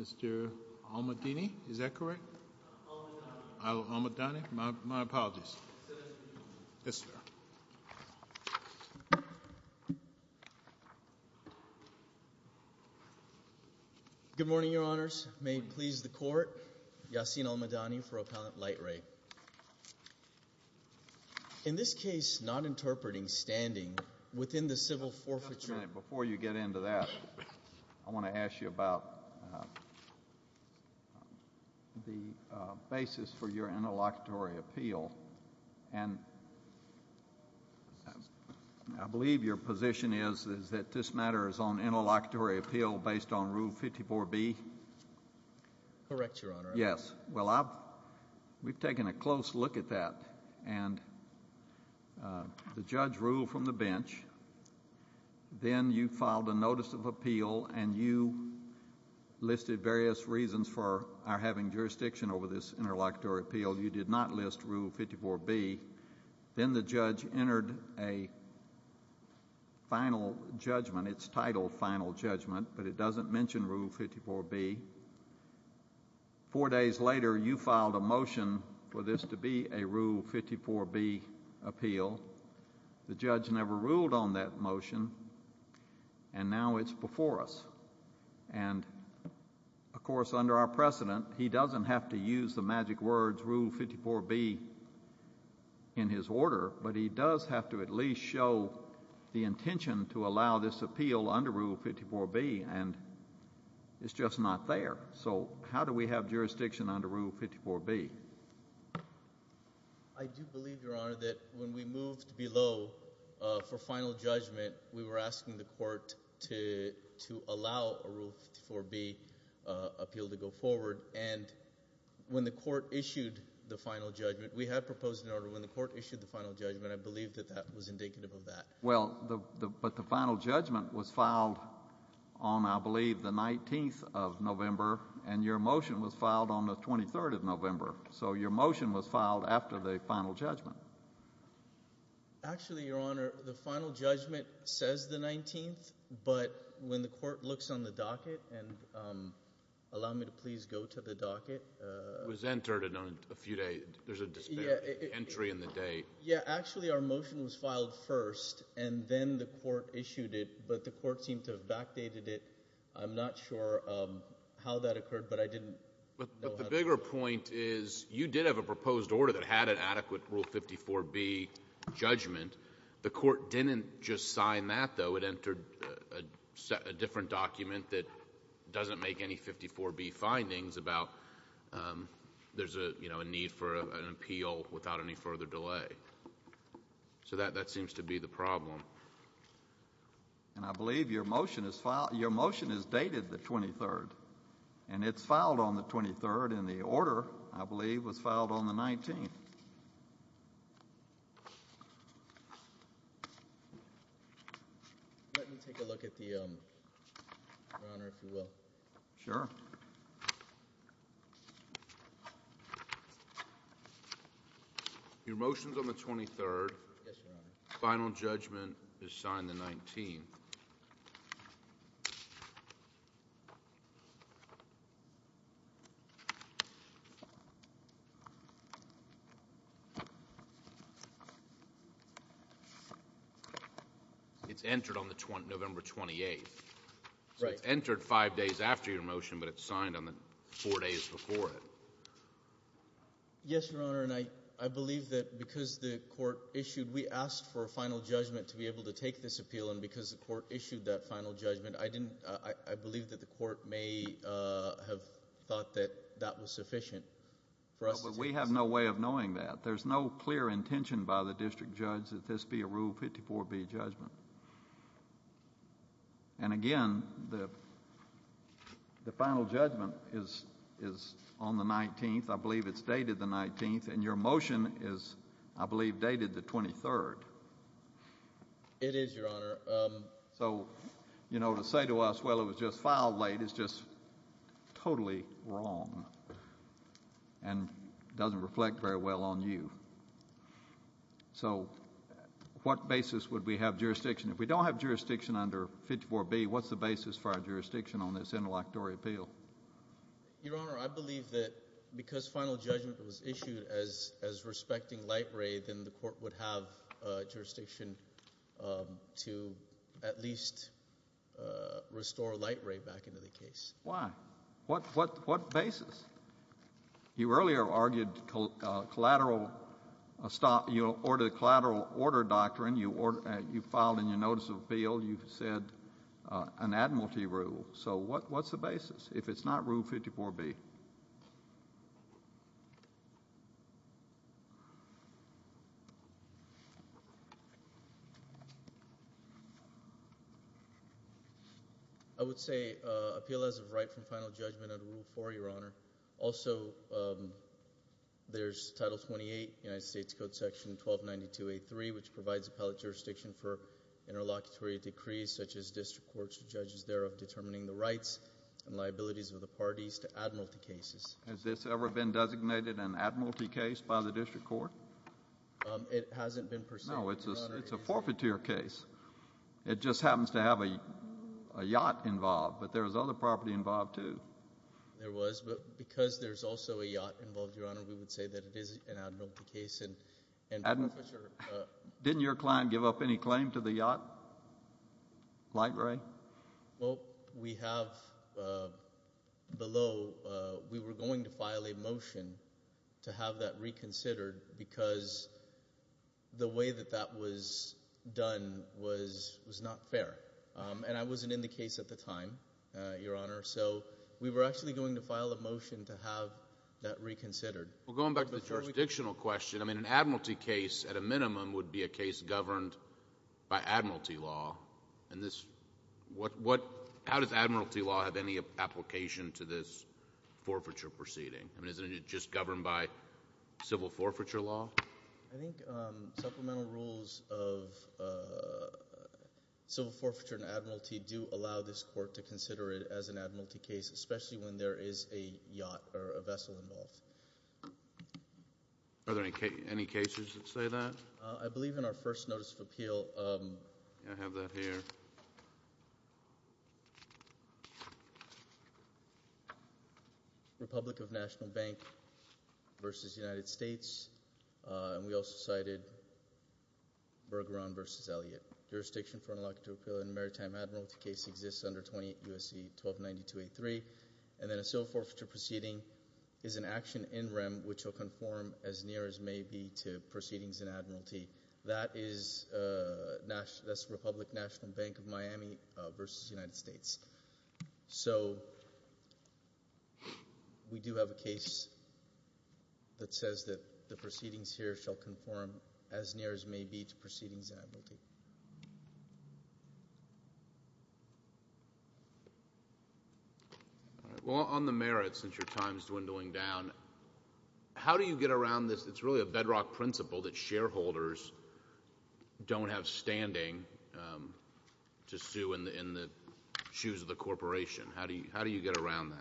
Mr. Al-Mahdini, is that correct? Al-Mahdini, my apologies. Good morning, Your Honors. May it please the Court, Yasin Al-Mahdini for Appellant Lightray. In this case, not interpreting standing within the civil forfeiture... ...but the basis for your interlocutory appeal. And I believe your position is that this matter is on interlocutory appeal based on Rule 54B? Correct, Your Honor. Yes. Well, we've taken a close look at that. And the judge ruled from the bench. Then you filed a Notice of Appeal and you listed various reasons for our having jurisdiction over this interlocutory appeal. You did not list Rule 54B. Then the judge entered a final judgment. It's titled Final Judgment, but it doesn't mention Rule 54B. Four days later, you filed a motion for this to be a Rule 54B appeal. The judge never ruled on that motion, and now it's before us. And, of course, under our precedent, he doesn't have to use the magic words, Rule 54B, in his order. But he does have to at least show the intention to allow this appeal under Rule 54B, and it's just not there. So how do we have jurisdiction under Rule 54B? I do believe, Your Honor, that when we moved below for final judgment, we were asking the court to allow a Rule 54B appeal to go forward. And when the court issued the final judgment, we had proposed an order when the court issued the final judgment. I believe that that was indicative of that. Well, but the final judgment was filed on, I believe, the 19th of November, and your motion was filed on the 23rd of November. So your motion was filed after the final judgment. Actually, Your Honor, the final judgment says the 19th, but when the court looks on the docket, and allow me to please go to the docket. It was entered in a few days. There's a dispute. Entry in the day. Yeah. Actually, our motion was filed first, and then the court issued it, but the court seemed to have backdated it. I'm not sure how that occurred, but I didn't know how. But the bigger point is you did have a proposed order that had an adequate Rule 54B judgment. The court didn't just sign that, though. It entered a different document that doesn't make any 54B findings about there's a need for an appeal without any further delay. So that seems to be the problem. And I believe your motion is dated the 23rd, and it's filed on the 23rd, and the order, I believe, was filed on the 19th. Let me take a look at the, Your Honor, if you will. Sure. Your motion's on the 23rd. Yes, Your Honor. Final judgment is signed the 19th. It's entered on the November 28th. Right. So it's entered five days after your motion, but it's signed on the four days before it. Yes, Your Honor, and I believe that because the court issued, we asked for a final judgment to be able to take this appeal, and because the court issued that final judgment, I didn't, I believe that the court may have thought that that was sufficient for us to decide. No, but we have no way of knowing that. There's no clear intention by the district judge that this be a Rule 54B judgment. And again, the final judgment is on the 19th. I believe it's dated the 19th, and your motion is, I believe, dated the 23rd. It is, Your Honor. So, you know, to say to us, well, it was just filed late is just totally wrong and doesn't reflect very well on you. So what basis would we have jurisdiction? If we don't have jurisdiction under 54B, what's the basis for our jurisdiction on this interlocutory appeal? Your Honor, I believe that because final judgment was issued as respecting light ray, then the court would have jurisdiction to at least restore light ray back into the case. Why? What basis? You earlier argued collateral, you ordered a collateral order doctrine. You filed in your notice of appeal. You said an admiralty rule. So what's the basis? If it's not Rule 54B? I would say appeal as of right from final judgment under Rule 4, Your Honor. Also, there's Title 28, United States Code Section 1292A3, which provides appellate jurisdiction for interlocutory decrees such as district courts to judges thereof determining the rights and liabilities of the parties to admiralty cases. Has this ever been designated an admiralty case by the district court? It hasn't been pursued. No, it's a forfeiture case. It just happens to have a yacht involved, but there was other property involved, too. There was, but because there's also a yacht involved, Your Honor, we would say that it is an admiralty case and forfeiture. Didn't your client give up any claim to the yacht, light ray? Well, we have below. We were going to file a motion to have that reconsidered because the way that that was done was not fair. And I wasn't in the case at the time, Your Honor, so we were actually going to file a motion to have that reconsidered. Well, going back to the jurisdictional question, I mean an admiralty case at a minimum would be a case governed by admiralty law. How does admiralty law have any application to this forfeiture proceeding? I mean isn't it just governed by civil forfeiture law? I think supplemental rules of civil forfeiture and admiralty do allow this court to consider it as an admiralty case, especially when there is a yacht or a vessel involved. Are there any cases that say that? I believe in our first notice of appeal. I have that here. Republic of National Bank v. United States. And we also cited Bergeron v. Elliott. Jurisdiction for an electoral and maritime admiralty case exists under 28 U.S.C. 1292-83. And then a civil forfeiture proceeding is an action in rem which will conform as near as may be to proceedings in admiralty. That is Republic National Bank of Miami v. United States. So we do have a case that says that the proceedings here shall conform as near as may be to proceedings in admiralty. Well, on the merits, since your time is dwindling down, how do you get around this? It's really a bedrock principle that shareholders don't have standing to sue in the shoes of the corporation. How do you get around that?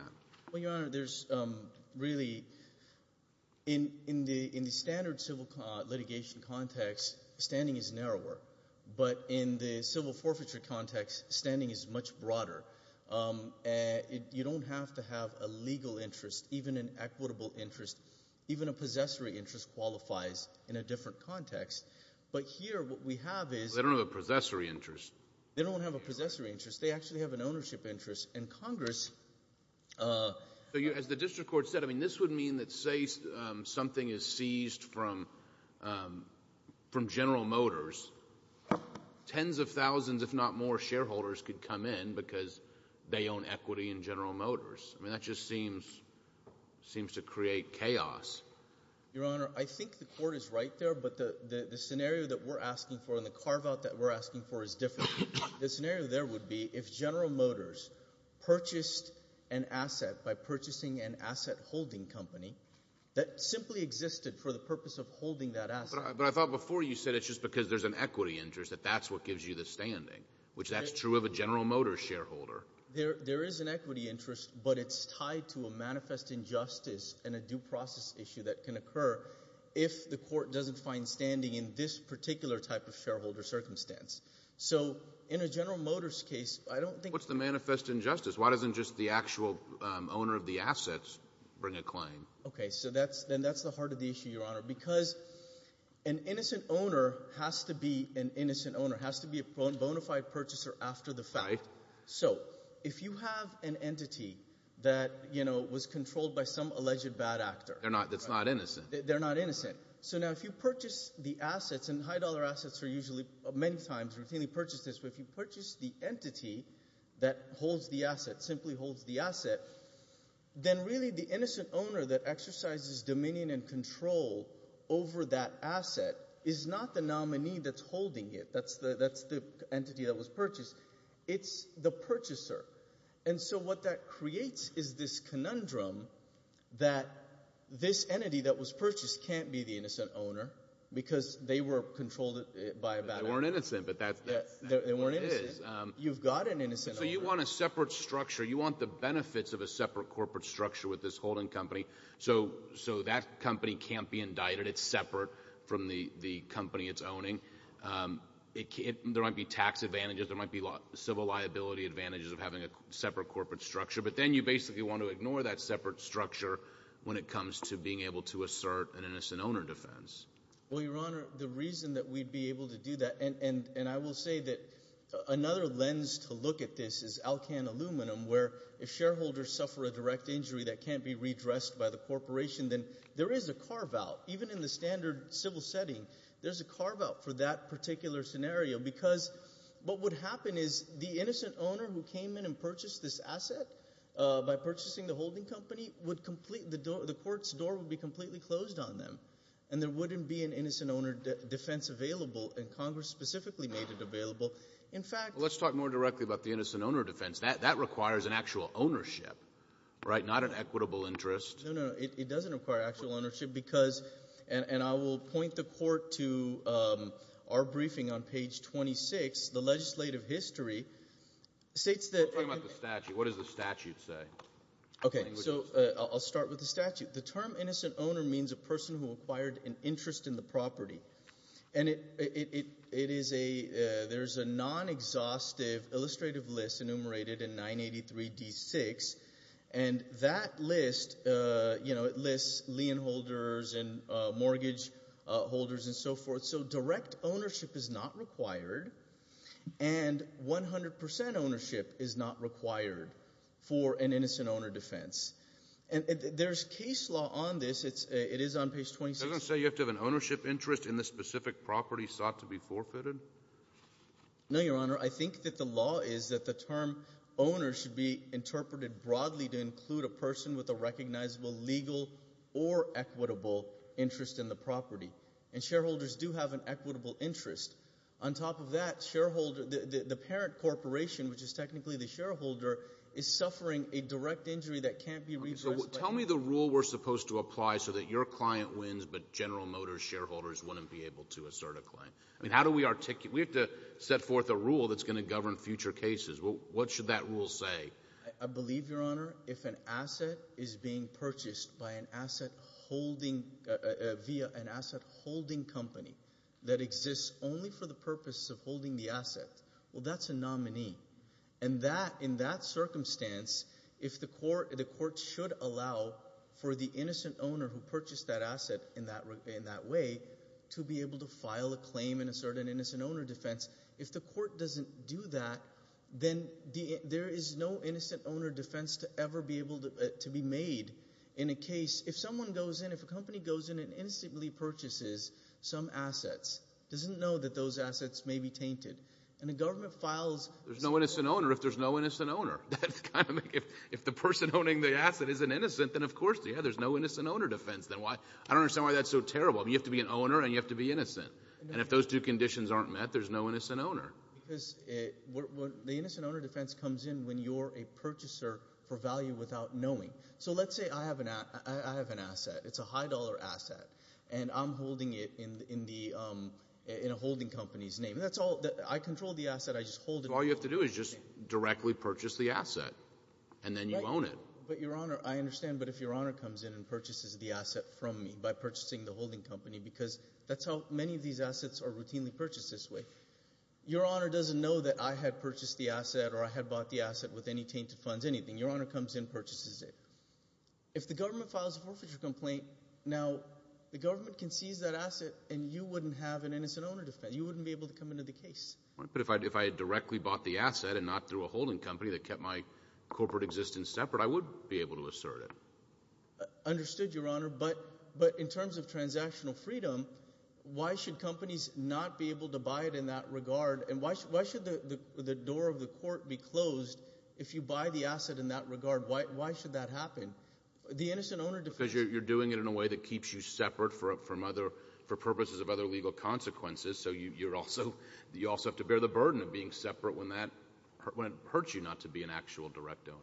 Well, Your Honor, there's really – in the standard civil litigation context, standing is narrower. But in the civil forfeiture context, standing is much broader. You don't have to have a legal interest, even an equitable interest. Even a possessory interest qualifies in a different context. But here what we have is – They don't have a possessory interest. They don't have a possessory interest. They actually have an ownership interest. And Congress – As the district court said, I mean, this would mean that say something is seized from General Motors, tens of thousands, if not more, shareholders could come in because they own equity in General Motors. I mean, that just seems to create chaos. Your Honor, I think the court is right there. But the scenario that we're asking for and the carve-out that we're asking for is different. The scenario there would be if General Motors purchased an asset by purchasing an asset-holding company that simply existed for the purpose of holding that asset. But I thought before you said it's just because there's an equity interest that that's what gives you the standing, which that's true of a General Motors shareholder. There is an equity interest, but it's tied to a manifest injustice and a due process issue that can occur if the court doesn't find standing in this particular type of shareholder circumstance. So in a General Motors case, I don't think – What's the manifest injustice? Why doesn't just the actual owner of the assets bring a claim? Okay. So then that's the heart of the issue, Your Honor. Because an innocent owner has to be an innocent owner, has to be a bona fide purchaser after the fact. Right. So if you have an entity that was controlled by some alleged bad actor – That's not innocent. They're not innocent. So now if you purchase the assets, and high-dollar assets are usually many times routinely purchased. But if you purchase the entity that holds the asset, simply holds the asset, then really the innocent owner that exercises dominion and control over that asset is not the nominee that's holding it. That's the entity that was purchased. It's the purchaser. And so what that creates is this conundrum that this entity that was purchased can't be the innocent owner because they were controlled by a bad actor. They weren't innocent, but that's what it is. You've got an innocent owner. So you want a separate structure. You want the benefits of a separate corporate structure with this holding company so that company can't be indicted. It's separate from the company it's owning. There might be tax advantages. There might be civil liability advantages of having a separate corporate structure. But then you basically want to ignore that separate structure when it comes to being able to assert an innocent owner defense. Well, Your Honor, the reason that we'd be able to do that – and I will say that another lens to look at this is Alcan aluminum, where if shareholders suffer a direct injury that can't be redressed by the corporation, then there is a carve-out. Even in the standard civil setting, there's a carve-out for that particular scenario because what would happen is the innocent owner who came in and purchased this asset by purchasing the holding company would complete – the court's door would be completely closed on them, and there wouldn't be an innocent owner defense available. And Congress specifically made it available. In fact – Well, let's talk more directly about the innocent owner defense. That requires an actual ownership, right, not an equitable interest. No, no. It doesn't require actual ownership because – and I will point the Court to our briefing on page 26. The legislative history states that – Let's talk about the statute. What does the statute say? Okay. So I'll start with the statute. The term innocent owner means a person who acquired an interest in the property. And it – it is a – there's a non-exhaustive illustrative list enumerated in 983d6, and that list, you know, it lists lien holders and mortgage holders and so forth. So direct ownership is not required, and 100 percent ownership is not required for an innocent owner defense. And there's case law on this. It's – it is on page 26. It doesn't say you have to have an ownership interest in the specific property sought to be forfeited? No, Your Honor. I think that the law is that the term owner should be interpreted broadly to include a person with a recognizable legal or equitable interest in the property. And shareholders do have an equitable interest. On top of that, shareholder – the parent corporation, which is technically the shareholder, So tell me the rule we're supposed to apply so that your client wins but General Motors shareholders wouldn't be able to assert a claim. I mean, how do we articulate – we have to set forth a rule that's going to govern future cases. What should that rule say? I believe, Your Honor, if an asset is being purchased by an asset holding – via an asset holding company that exists only for the purpose of holding the asset, well, that's a nominee. And that – in that circumstance, if the court – the court should allow for the innocent owner who purchased that asset in that way to be able to file a claim and assert an innocent owner defense. If the court doesn't do that, then there is no innocent owner defense to ever be able to be made in a case. If someone goes in – if a company goes in and instantly purchases some assets, it doesn't know that those assets may be tainted. And the government files – There's no innocent owner if there's no innocent owner. If the person owning the asset isn't innocent, then of course there's no innocent owner defense. I don't understand why that's so terrible. You have to be an owner and you have to be innocent. And if those two conditions aren't met, there's no innocent owner. Because the innocent owner defense comes in when you're a purchaser for value without knowing. So let's say I have an asset. It's a high-dollar asset. And I'm holding it in the – in a holding company's name. That's all – I control the asset. I just hold it. So all you have to do is just directly purchase the asset and then you own it. But, Your Honor, I understand. But if Your Honor comes in and purchases the asset from me by purchasing the holding company because that's how many of these assets are routinely purchased this way, Your Honor doesn't know that I had purchased the asset or I had bought the asset with any tainted funds, anything. Your Honor comes in, purchases it. If the government files a forfeiture complaint, now the government can seize that asset and you wouldn't have an innocent owner defense. You wouldn't be able to come into the case. But if I had directly bought the asset and not through a holding company that kept my corporate existence separate, I would be able to assert it. Understood, Your Honor. But in terms of transactional freedom, why should companies not be able to buy it in that regard? And why should the door of the court be closed if you buy the asset in that regard? Why should that happen? The innocent owner defense – Because you're doing it in a way that keeps you separate from other – for purposes of other legal consequences. So you also have to bear the burden of being separate when it hurts you not to be an actual direct owner.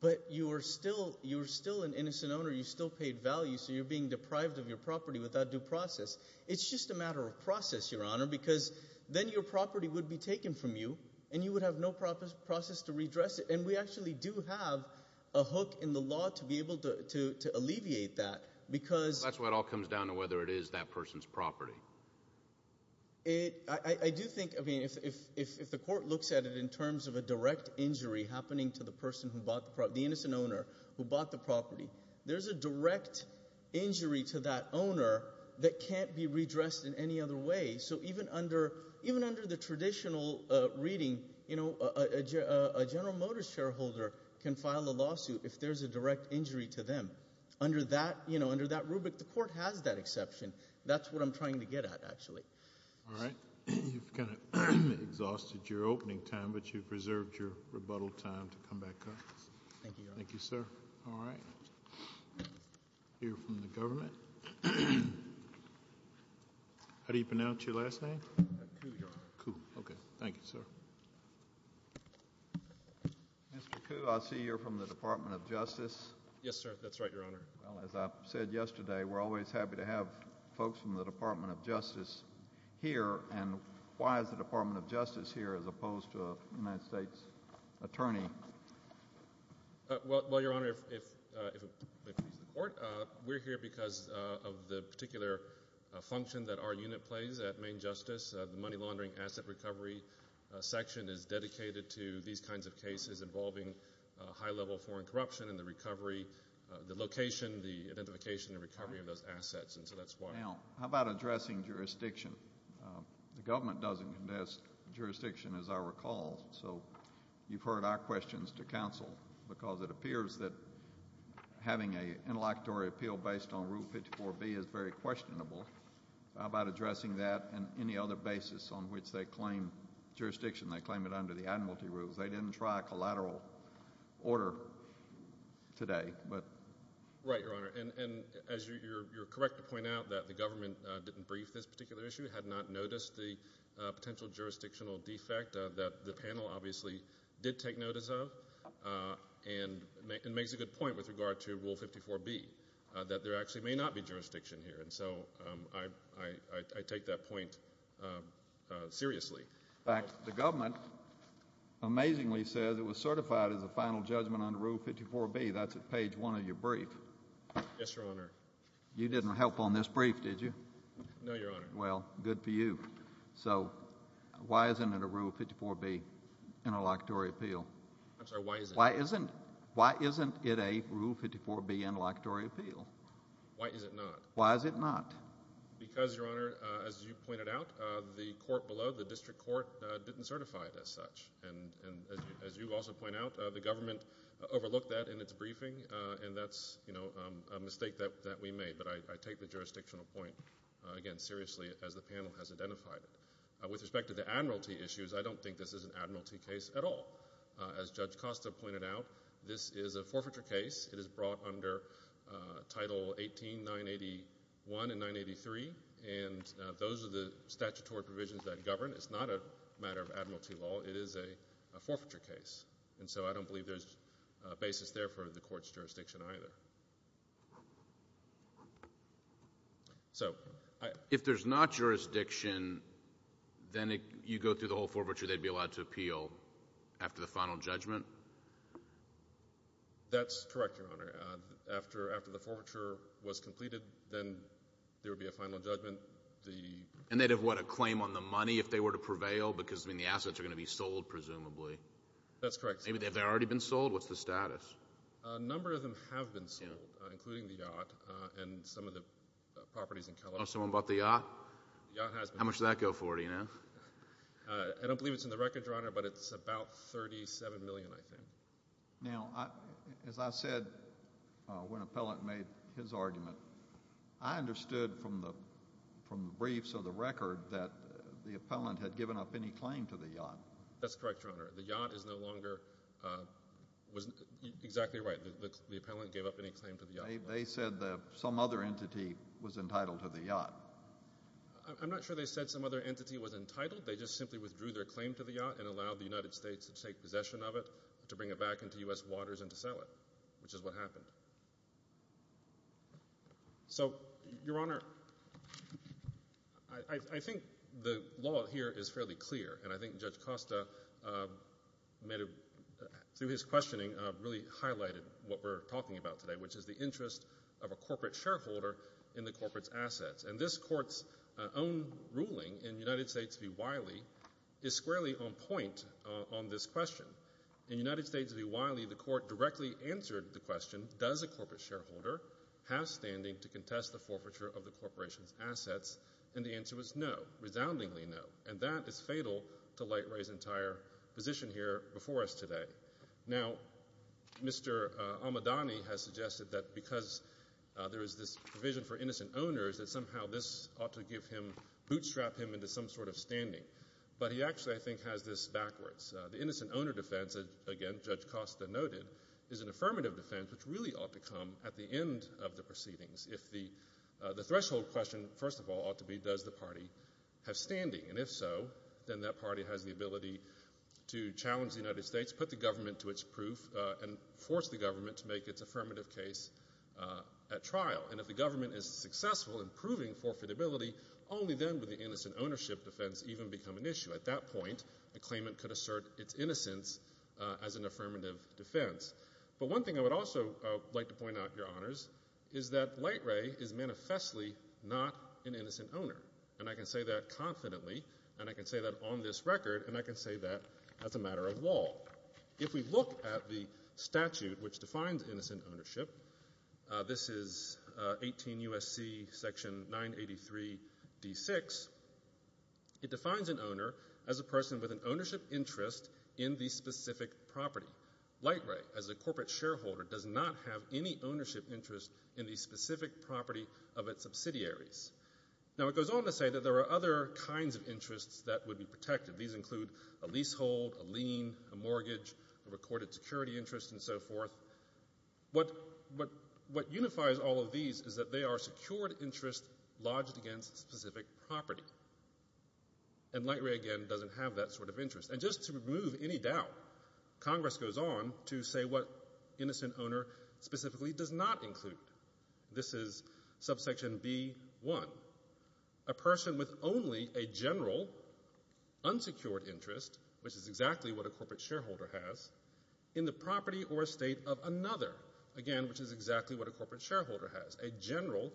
But you're still an innocent owner. You still paid value, so you're being deprived of your property without due process. It's just a matter of process, Your Honor, because then your property would be taken from you and you would have no process to redress it. And we actually do have a hook in the law to be able to alleviate that because – That's why it all comes down to whether it is that person's property. I do think, I mean, if the court looks at it in terms of a direct injury happening to the person who bought the property, the innocent owner who bought the property, there's a direct injury to that owner that can't be redressed in any other way. So even under the traditional reading, a General Motors shareholder can file a lawsuit if there's a direct injury to them. Under that rubric, the court has that exception. That's what I'm trying to get at, actually. All right. You've kind of exhausted your opening time, but you've preserved your rebuttal time to come back up. Thank you, Your Honor. Thank you, sir. All right. Hear from the government. How do you pronounce your last name? Koo, Your Honor. Koo. Okay. Thank you, sir. Mr. Koo, I see you're from the Department of Justice. Yes, sir. That's right, Your Honor. Well, as I said yesterday, we're always happy to have folks from the Department of Justice here. And why is the Department of Justice here as opposed to a United States attorney? Well, Your Honor, if it pleases the court, we're here because of the particular function that our unit plays at Maine Justice. The money laundering asset recovery section is dedicated to these kinds of cases involving high-level foreign corruption and the recovery, the location, the identification and recovery of those assets. And so that's why. Now, how about addressing jurisdiction? The government doesn't condesce jurisdiction, as I recall. So you've heard our questions to counsel because it appears that having an interlocutory appeal based on Rule 54B is very questionable. How about addressing that and any other basis on which they claim jurisdiction? They claim it under the admiralty rules. They didn't try a collateral order today. Right, Your Honor. And as you're correct to point out, that the government didn't brief this particular issue, had not noticed the potential jurisdictional defect that the panel obviously did take notice of and makes a good point with regard to Rule 54B, that there actually may not be jurisdiction here. And so I take that point seriously. In fact, the government amazingly says it was certified as a final judgment under Rule 54B. That's at page one of your brief. Yes, Your Honor. You didn't help on this brief, did you? No, Your Honor. Well, good for you. So why isn't it a Rule 54B interlocutory appeal? I'm sorry, why is it? Why isn't it a Rule 54B interlocutory appeal? Why is it not? Why is it not? Because, Your Honor, as you pointed out, the court below, the district court, didn't certify it as such. And as you also point out, the government overlooked that in its briefing, and that's a mistake that we made. But I take the jurisdictional point, again, seriously as the panel has identified it. With respect to the admiralty issues, I don't think this is an admiralty case at all. As Judge Costa pointed out, this is a forfeiture case. It is brought under Title 18, 981 and 983, and those are the statutory provisions that govern. It's not a matter of admiralty law. It is a forfeiture case. And so I don't believe there's a basis there for the court's jurisdiction either. So if there's not jurisdiction, then you go through the whole forfeiture, they'd be allowed to appeal after the final judgment? That's correct, Your Honor. After the forfeiture was completed, then there would be a final judgment. And they'd have, what, a claim on the money if they were to prevail? Because, I mean, the assets are going to be sold, presumably. That's correct. Have they already been sold? What's the status? A number of them have been sold, including the yacht and some of the properties in California. Oh, someone bought the yacht? The yacht has been sold. How much did that go for, do you know? I don't believe it's in the record, Your Honor, but it's about $37 million, I think. Now, as I said when an appellant made his argument, I understood from the briefs of the record that the appellant had given up any claim to the yacht. That's correct, Your Honor. The yacht is no longer exactly right. The appellant gave up any claim to the yacht. They said that some other entity was entitled to the yacht. I'm not sure they said some other entity was entitled. They just simply withdrew their claim to the yacht and allowed the United States to take possession of it, to bring it back into U.S. waters, and to sell it, which is what happened. So, Your Honor, I think the law here is fairly clear, and I think Judge Costa, through his questioning, really highlighted what we're talking about today, which is the interest of a corporate shareholder in the corporate's assets. And this Court's own ruling in United States v. Wiley is squarely on point on this question. In United States v. Wiley, the Court directly answered the question, does a corporate shareholder have standing to contest the forfeiture of the corporation's assets? And the answer was no, resoundingly no. And that is fatal to Light Ray's entire position here before us today. Now, Mr. Almodany has suggested that because there is this provision for innocent owners that somehow this ought to give him, bootstrap him into some sort of standing. But he actually, I think, has this backwards. The innocent owner defense, again, Judge Costa noted, is an affirmative defense which really ought to come at the end of the proceedings if the threshold question, first of all, ought to be, does the party have standing? And if so, then that party has the ability to challenge the United States, put the government to its proof, and force the government to make its affirmative case at trial. And if the government is successful in proving forfeitability, only then would the innocent ownership defense even become an issue. At that point, a claimant could assert its innocence as an affirmative defense. But one thing I would also like to point out, Your Honors, is that Light Ray is manifestly not an innocent owner. And I can say that confidently, and I can say that on this record, and I can say that as a matter of law. If we look at the statute which defines innocent ownership, this is 18 U.S.C. Section 983d6, it defines an owner as a person with an ownership interest in the specific property. Light Ray, as a corporate shareholder, does not have any ownership interest in the specific property of its subsidiaries. Now, it goes on to say that there are other kinds of interests that would be protected. These include a leasehold, a lien, a mortgage, a recorded security interest, and so forth. What unifies all of these is that they are secured interests lodged against a specific property. And Light Ray, again, doesn't have that sort of interest. And just to remove any doubt, Congress goes on to say what innocent owner specifically does not include. This is subsection B.1. A person with only a general unsecured interest, which is exactly what a corporate shareholder has, in the property or estate of another, again, which is exactly what a corporate shareholder has, a general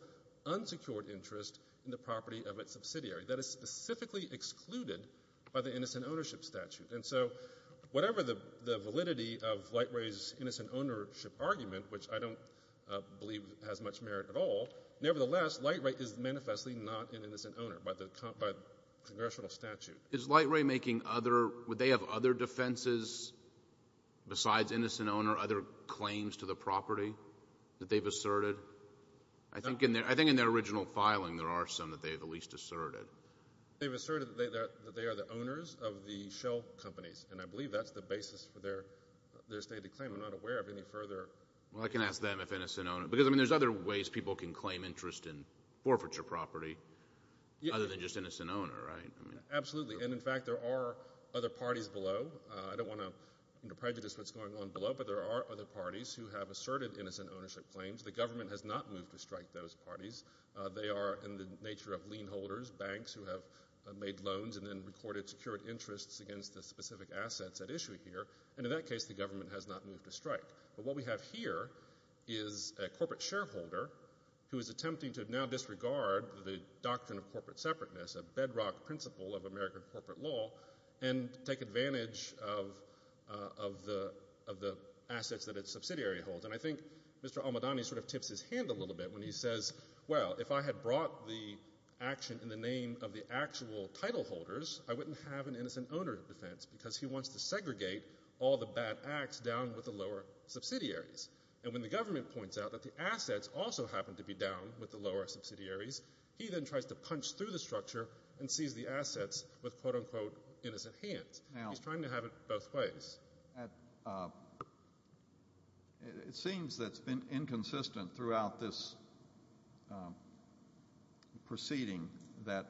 unsecured interest in the property of its subsidiary that is specifically excluded by the innocent ownership statute. And so whatever the validity of Light Ray's innocent ownership argument, which I don't believe has much merit at all, nevertheless, Light Ray is manifestly not an innocent owner by the congressional statute. Is Light Ray making other—would they have other defenses besides innocent owner, other claims to the property that they've asserted? I think in their original filing there are some that they have at least asserted. They've asserted that they are the owners of the shell companies, and I believe that's the basis for their stated claim. I'm not aware of any further— Well, I can ask them if innocent owner. Because, I mean, there's other ways people can claim interest in forfeiture property other than just innocent owner, right? Absolutely. And, in fact, there are other parties below. I don't want to prejudice what's going on below, but there are other parties who have asserted innocent ownership claims. The government has not moved to strike those parties. They are in the nature of lien holders, banks who have made loans and then recorded secured interests against the specific assets at issue here. And, in that case, the government has not moved to strike. But what we have here is a corporate shareholder who is attempting to now disregard the doctrine of corporate separateness, a bedrock principle of American corporate law, and take advantage of the assets that its subsidiary holds. And I think Mr. Almodany sort of tips his hand a little bit when he says, well, if I had brought the action in the name of the actual title holders, I wouldn't have an innocent owner defense because he wants to segregate all the bad acts down with the lower subsidiaries. And when the government points out that the assets also happen to be down with the lower subsidiaries, he then tries to punch through the structure and seize the assets with, quote, unquote, innocent hands. He's trying to have it both ways. It seems that it's been inconsistent throughout this proceeding that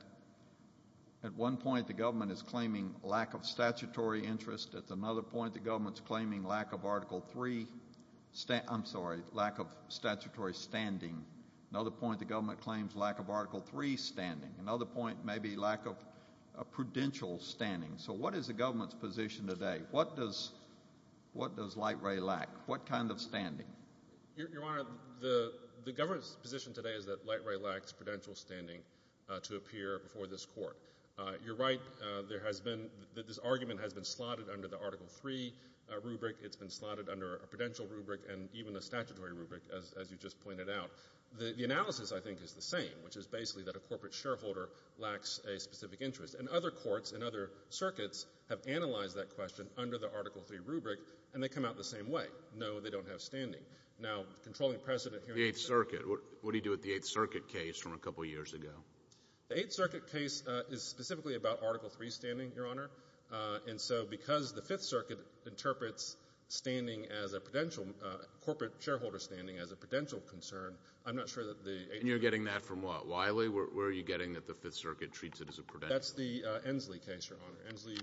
at one point the government is claiming lack of statutory interest. At another point, the government is claiming lack of Article III stand— I'm sorry, lack of statutory standing. Another point, the government claims lack of Article III standing. Another point, maybe lack of prudential standing. So what is the government's position today? What does Light Ray lack? What kind of standing? Your Honor, the government's position today is that Light Ray lacks prudential standing to appear before this court. You're right. There has been—this argument has been slotted under the Article III rubric. It's been slotted under a prudential rubric and even a statutory rubric, as you just pointed out. The analysis, I think, is the same, which is basically that a corporate shareholder lacks a specific interest. And other courts and other circuits have analyzed that question under the Article III rubric, and they come out the same way. No, they don't have standing. Now, controlling precedent here— The Eighth Circuit. What do you do with the Eighth Circuit case from a couple years ago? The Eighth Circuit case is specifically about Article III standing, Your Honor. And so because the Fifth Circuit interprets standing as a prudential— corporate shareholder standing as a prudential concern, I'm not sure that the Eighth Circuit— And you're getting that from what? Wiley? Where are you getting that the Fifth Circuit treats it as a prudential— That's the Ensley case, Your Honor. Ensley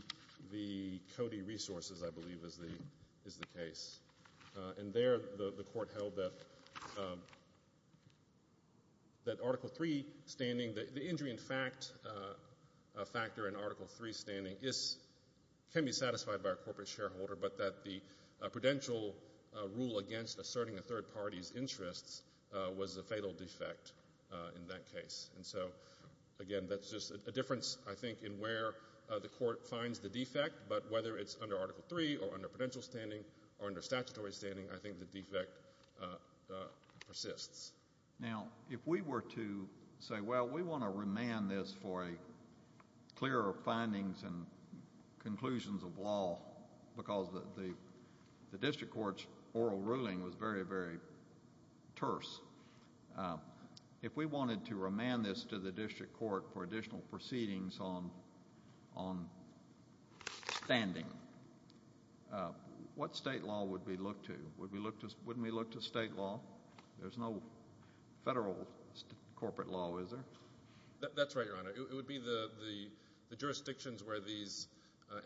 v. Cody Resources, I believe, is the case. And there the court held that Article III standing— the injury in fact factor in Article III standing can be satisfied by a corporate shareholder, but that the prudential rule against asserting a third party's interests was a fatal defect in that case. And so, again, that's just a difference, I think, in where the court finds the defect, but whether it's under Article III or under prudential standing or under statutory standing, I think the defect persists. Now, if we were to say, well, we want to remand this for a clearer findings and conclusions of law because the district court's oral ruling was very, very terse. If we wanted to remand this to the district court for additional proceedings on standing, what state law would we look to? Wouldn't we look to state law? There's no federal corporate law, is there? That's right, Your Honor. It would be the jurisdictions where these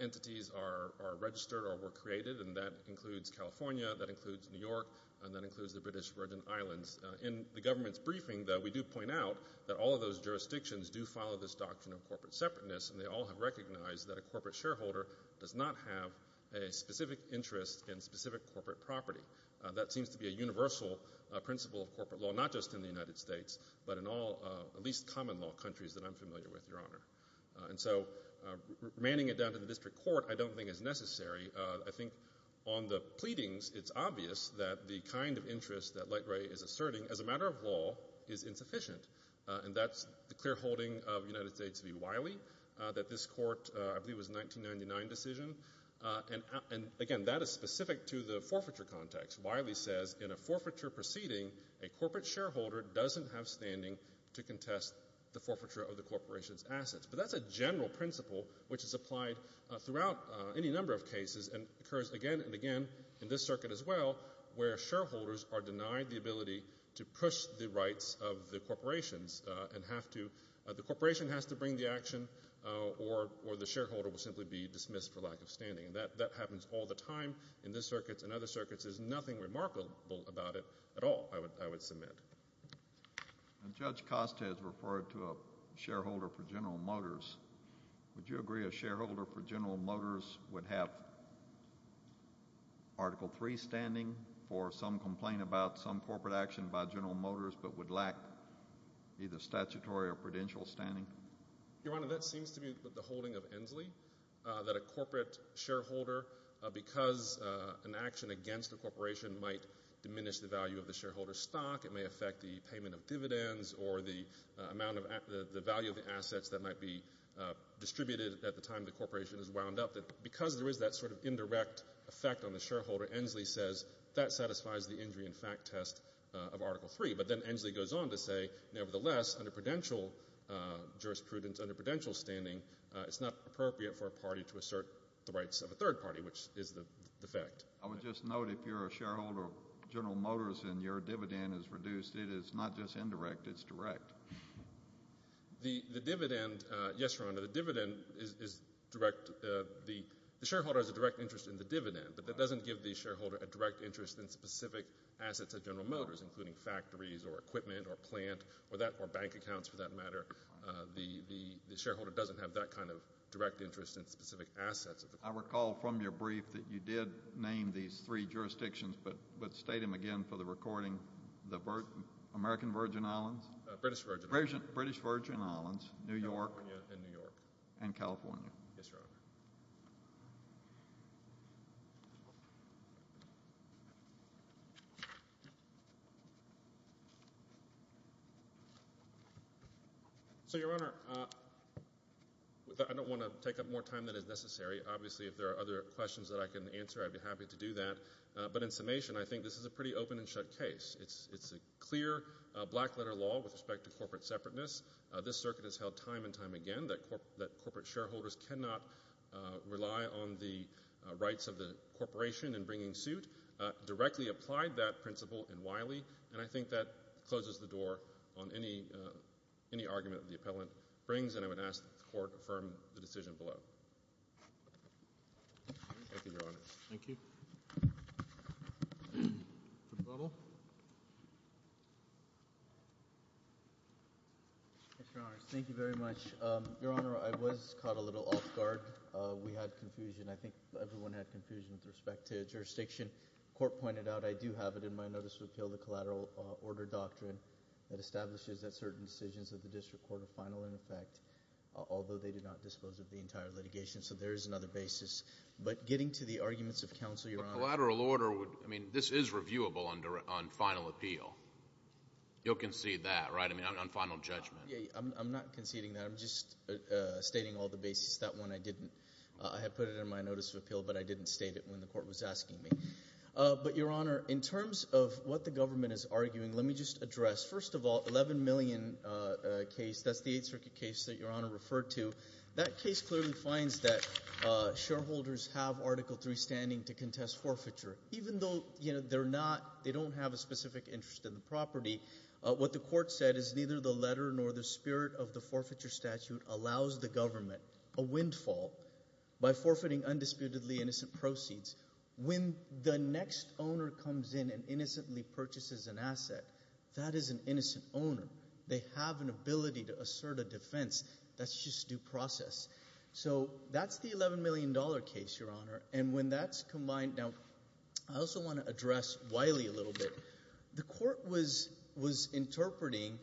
entities are registered or were created, and that includes California, that includes New York, and that includes the British Virgin Islands. In the government's briefing, though, we do point out that all of those jurisdictions do follow this doctrine of corporate separateness, and they all have recognized that a corporate shareholder does not have a specific interest in specific corporate property. That seems to be a universal principle of corporate law, not just in the United States, but in all at least common law countries that I'm familiar with, Your Honor. And so remanding it down to the district court I don't think is necessary. I think on the pleadings it's obvious that the kind of interest that Light Ray is asserting as a matter of law is insufficient, and that's the clear holding of United States v. Wiley, that this court I believe was a 1999 decision. And, again, that is specific to the forfeiture context. Wiley says in a forfeiture proceeding, a corporate shareholder doesn't have standing to contest the forfeiture of the corporation's assets. But that's a general principle which is applied throughout any number of cases and occurs again and again in this circuit as well, where shareholders are denied the ability to push the rights of the corporations and the corporation has to bring the action or the shareholder will simply be dismissed for lack of standing. That happens all the time in this circuit and other circuits. There's nothing remarkable about it at all, I would submit. Judge Costes referred to a shareholder for General Motors. Would you agree a shareholder for General Motors would have Article III standing for some complaint about some corporate action by General Motors but would lack either statutory or prudential standing? Your Honor, that seems to me the holding of Inslee, that a corporate shareholder, because an action against a corporation, might diminish the value of the shareholder's stock. It may affect the payment of dividends or the value of the assets that might be distributed at the time the corporation is wound up. Because there is that sort of indirect effect on the shareholder, Inslee says that satisfies the injury and fact test of Article III. But then Inslee goes on to say, nevertheless, under prudential jurisprudence, under prudential standing, it's not appropriate for a party to assert the rights of a third party, which is the effect. I would just note if you're a shareholder of General Motors and your dividend is reduced, it is not just indirect, it's direct. The dividend, yes, Your Honor, the dividend is direct. The shareholder has a direct interest in the dividend, but that doesn't give the shareholder a direct interest in specific assets at General Motors, including factories or equipment or plant or bank accounts, for that matter. The shareholder doesn't have that kind of direct interest in specific assets. I recall from your brief that you did name these three jurisdictions, but state them again for the recording, the American Virgin Islands? British Virgin Islands. British Virgin Islands, New York, and California. Yes, Your Honor. So, Your Honor, I don't want to take up more time than is necessary. Obviously, if there are other questions that I can answer, I'd be happy to do that. But in summation, I think this is a pretty open and shut case. It's a clear black-letter law with respect to corporate separateness. This circuit has held time and time again that corporate shareholders cannot rely on the rights of the corporation in bringing suit, directly applied that principle in Wiley, and I think that closes the door on any argument that the appellant brings, and I would ask that the Court affirm the decision below. Thank you, Your Honor. Thank you. Mr. Buttle. Mr. Honors, thank you very much. Your Honor, I was caught a little off guard. We had confusion. I think everyone had confusion with respect to jurisdiction. The Court pointed out I do have it in my notice of appeal, the collateral order doctrine, that establishes that certain decisions of the district court are final in effect, although they do not dispose of the entire litigation, so there is another basis. But getting to the arguments of counsel, Your Honor. Collateral order, I mean, this is reviewable on final appeal. You'll concede that, right? I mean, on final judgment. I'm not conceding that. I'm just stating all the bases. That one I didn't. I had put it in my notice of appeal, but I didn't state it when the Court was asking me. But, Your Honor, in terms of what the government is arguing, let me just address, first of all, 11 million case, that's the Eighth Circuit case that Your Honor referred to. That case clearly finds that shareholders have Article III standing to contest forfeiture. Even though they don't have a specific interest in the property, what the Court said is neither the letter nor the spirit of the forfeiture statute allows the government a windfall by forfeiting undisputedly innocent proceeds. When the next owner comes in and innocently purchases an asset, that is an innocent owner. They have an ability to assert a defense. That's just due process. So that's the $11 million case, Your Honor. And when that's combined – now, I also want to address Wiley a little bit. The Court was interpreting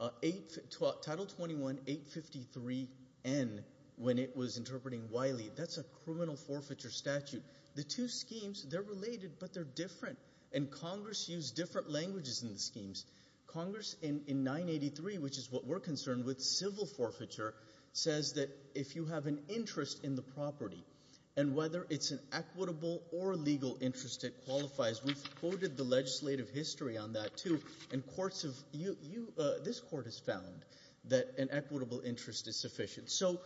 Title 21-853-N when it was interpreting Wiley. That's a criminal forfeiture statute. The two schemes, they're related, but they're different. And Congress used different languages in the schemes. Congress, in 983, which is what we're concerned with, civil forfeiture says that if you have an interest in the property and whether it's an equitable or legal interest, it qualifies. We've quoted the legislative history on that too. And courts have – this court has found that an equitable interest is sufficient. So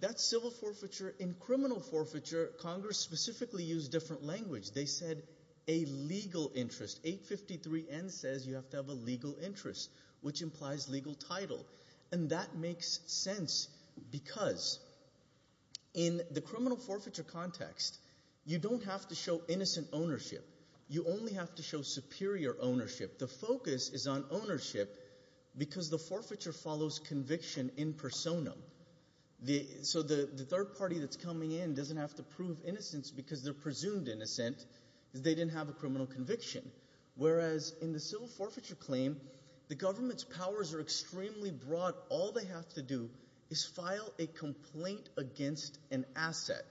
that's civil forfeiture. In criminal forfeiture, Congress specifically used different language. They said a legal interest. 853-N says you have to have a legal interest, which implies legal title. And that makes sense because in the criminal forfeiture context, you don't have to show innocent ownership. You only have to show superior ownership. The focus is on ownership because the forfeiture follows conviction in persona. So the third party that's coming in doesn't have to prove innocence because they're presumed innocent because they didn't have a criminal conviction. Whereas in the civil forfeiture claim, the government's powers are extremely broad. All they have to do is file a complaint against an asset.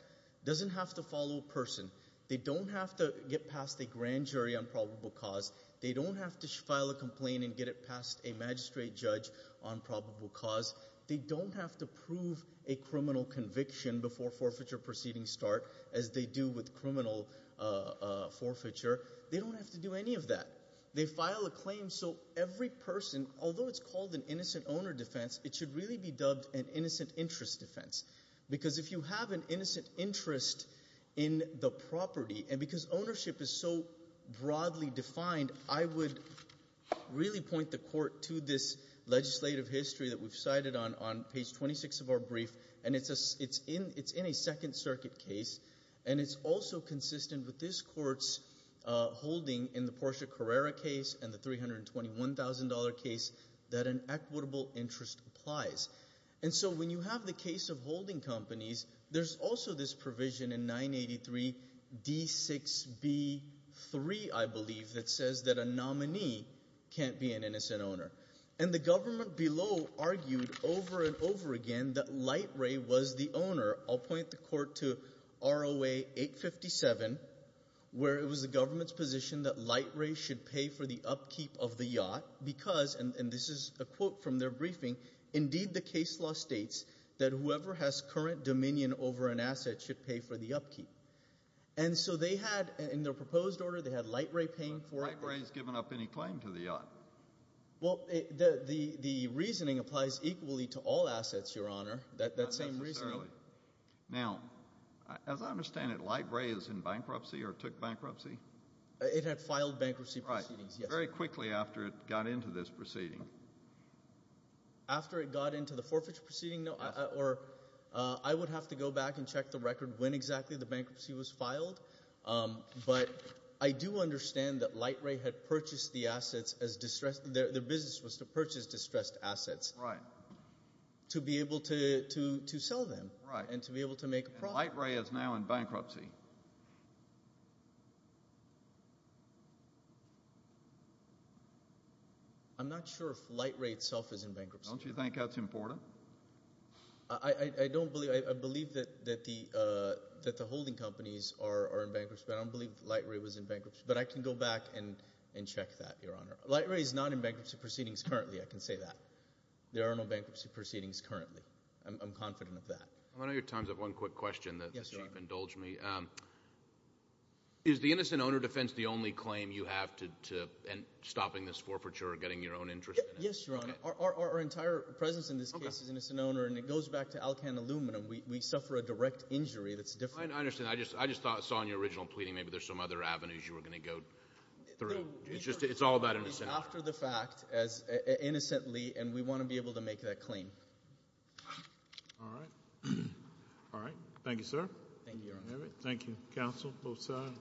It doesn't have to follow a person. They don't have to get past a grand jury on probable cause. They don't have to file a complaint and get it past a magistrate judge on probable cause. They don't have to prove a criminal conviction before forfeiture proceedings start as they do with criminal forfeiture. They don't have to do any of that. They file a claim so every person, although it's called an innocent owner defense, it should really be dubbed an innocent interest defense because if you have an innocent interest in the property and because ownership is so broadly defined, I would really point the court to this legislative history that we've cited on page 26 of our brief, and it's in a Second Circuit case, and it's also consistent with this court's holding in the Portia Carrera case and the $321,000 case that an equitable interest applies. And so when you have the case of holding companies, there's also this provision in 983D6B3, I believe, that says that a nominee can't be an innocent owner. And the government below argued over and over again that Light Ray was the owner. I'll point the court to ROA 857 where it was the government's position that Light Ray should pay for the upkeep of the yacht because, and this is a quote from their briefing, indeed the case law states that whoever has current dominion over an asset should pay for the upkeep. And so they had, in their proposed order, they had Light Ray paying for it. But Light Ray has given up any claim to the yacht. Well, the reasoning applies equally to all assets, Your Honor, that same reasoning. Not necessarily. Now, as I understand it, Light Ray is in bankruptcy or took bankruptcy? It had filed bankruptcy proceedings, yes. Very quickly after it got into this proceeding. After it got into the forfeiture proceeding? Or I would have to go back and check the record when exactly the bankruptcy was filed. But I do understand that Light Ray had purchased the assets as distressed, their business was to purchase distressed assets. Right. To be able to sell them. Right. And to be able to make a profit. Light Ray is now in bankruptcy. I'm not sure if Light Ray itself is in bankruptcy. Don't you think that's important? I don't believe, I believe that the holding companies are in bankruptcy, but I don't believe Light Ray was in bankruptcy. But I can go back and check that, Your Honor. Light Ray is not in bankruptcy proceedings currently, I can say that. There are no bankruptcy proceedings currently. I'm confident of that. I want to know your time. I have one quick question that the Chief indulged me. Is the innocent owner defense the only claim you have to stopping this forfeiture or getting your own interest in it? Yes, Your Honor. Our entire presence in this case is innocent owner, and it goes back to alkane aluminum. We suffer a direct injury that's different. I understand. I just saw in your original pleading maybe there's some other avenues you were going to go through. It's all about innocence. After the fact, innocently, and we want to be able to make that claim. All right. All right. Thank you, sir. Thank you, Your Honor. Thank you. Counsel, both sides.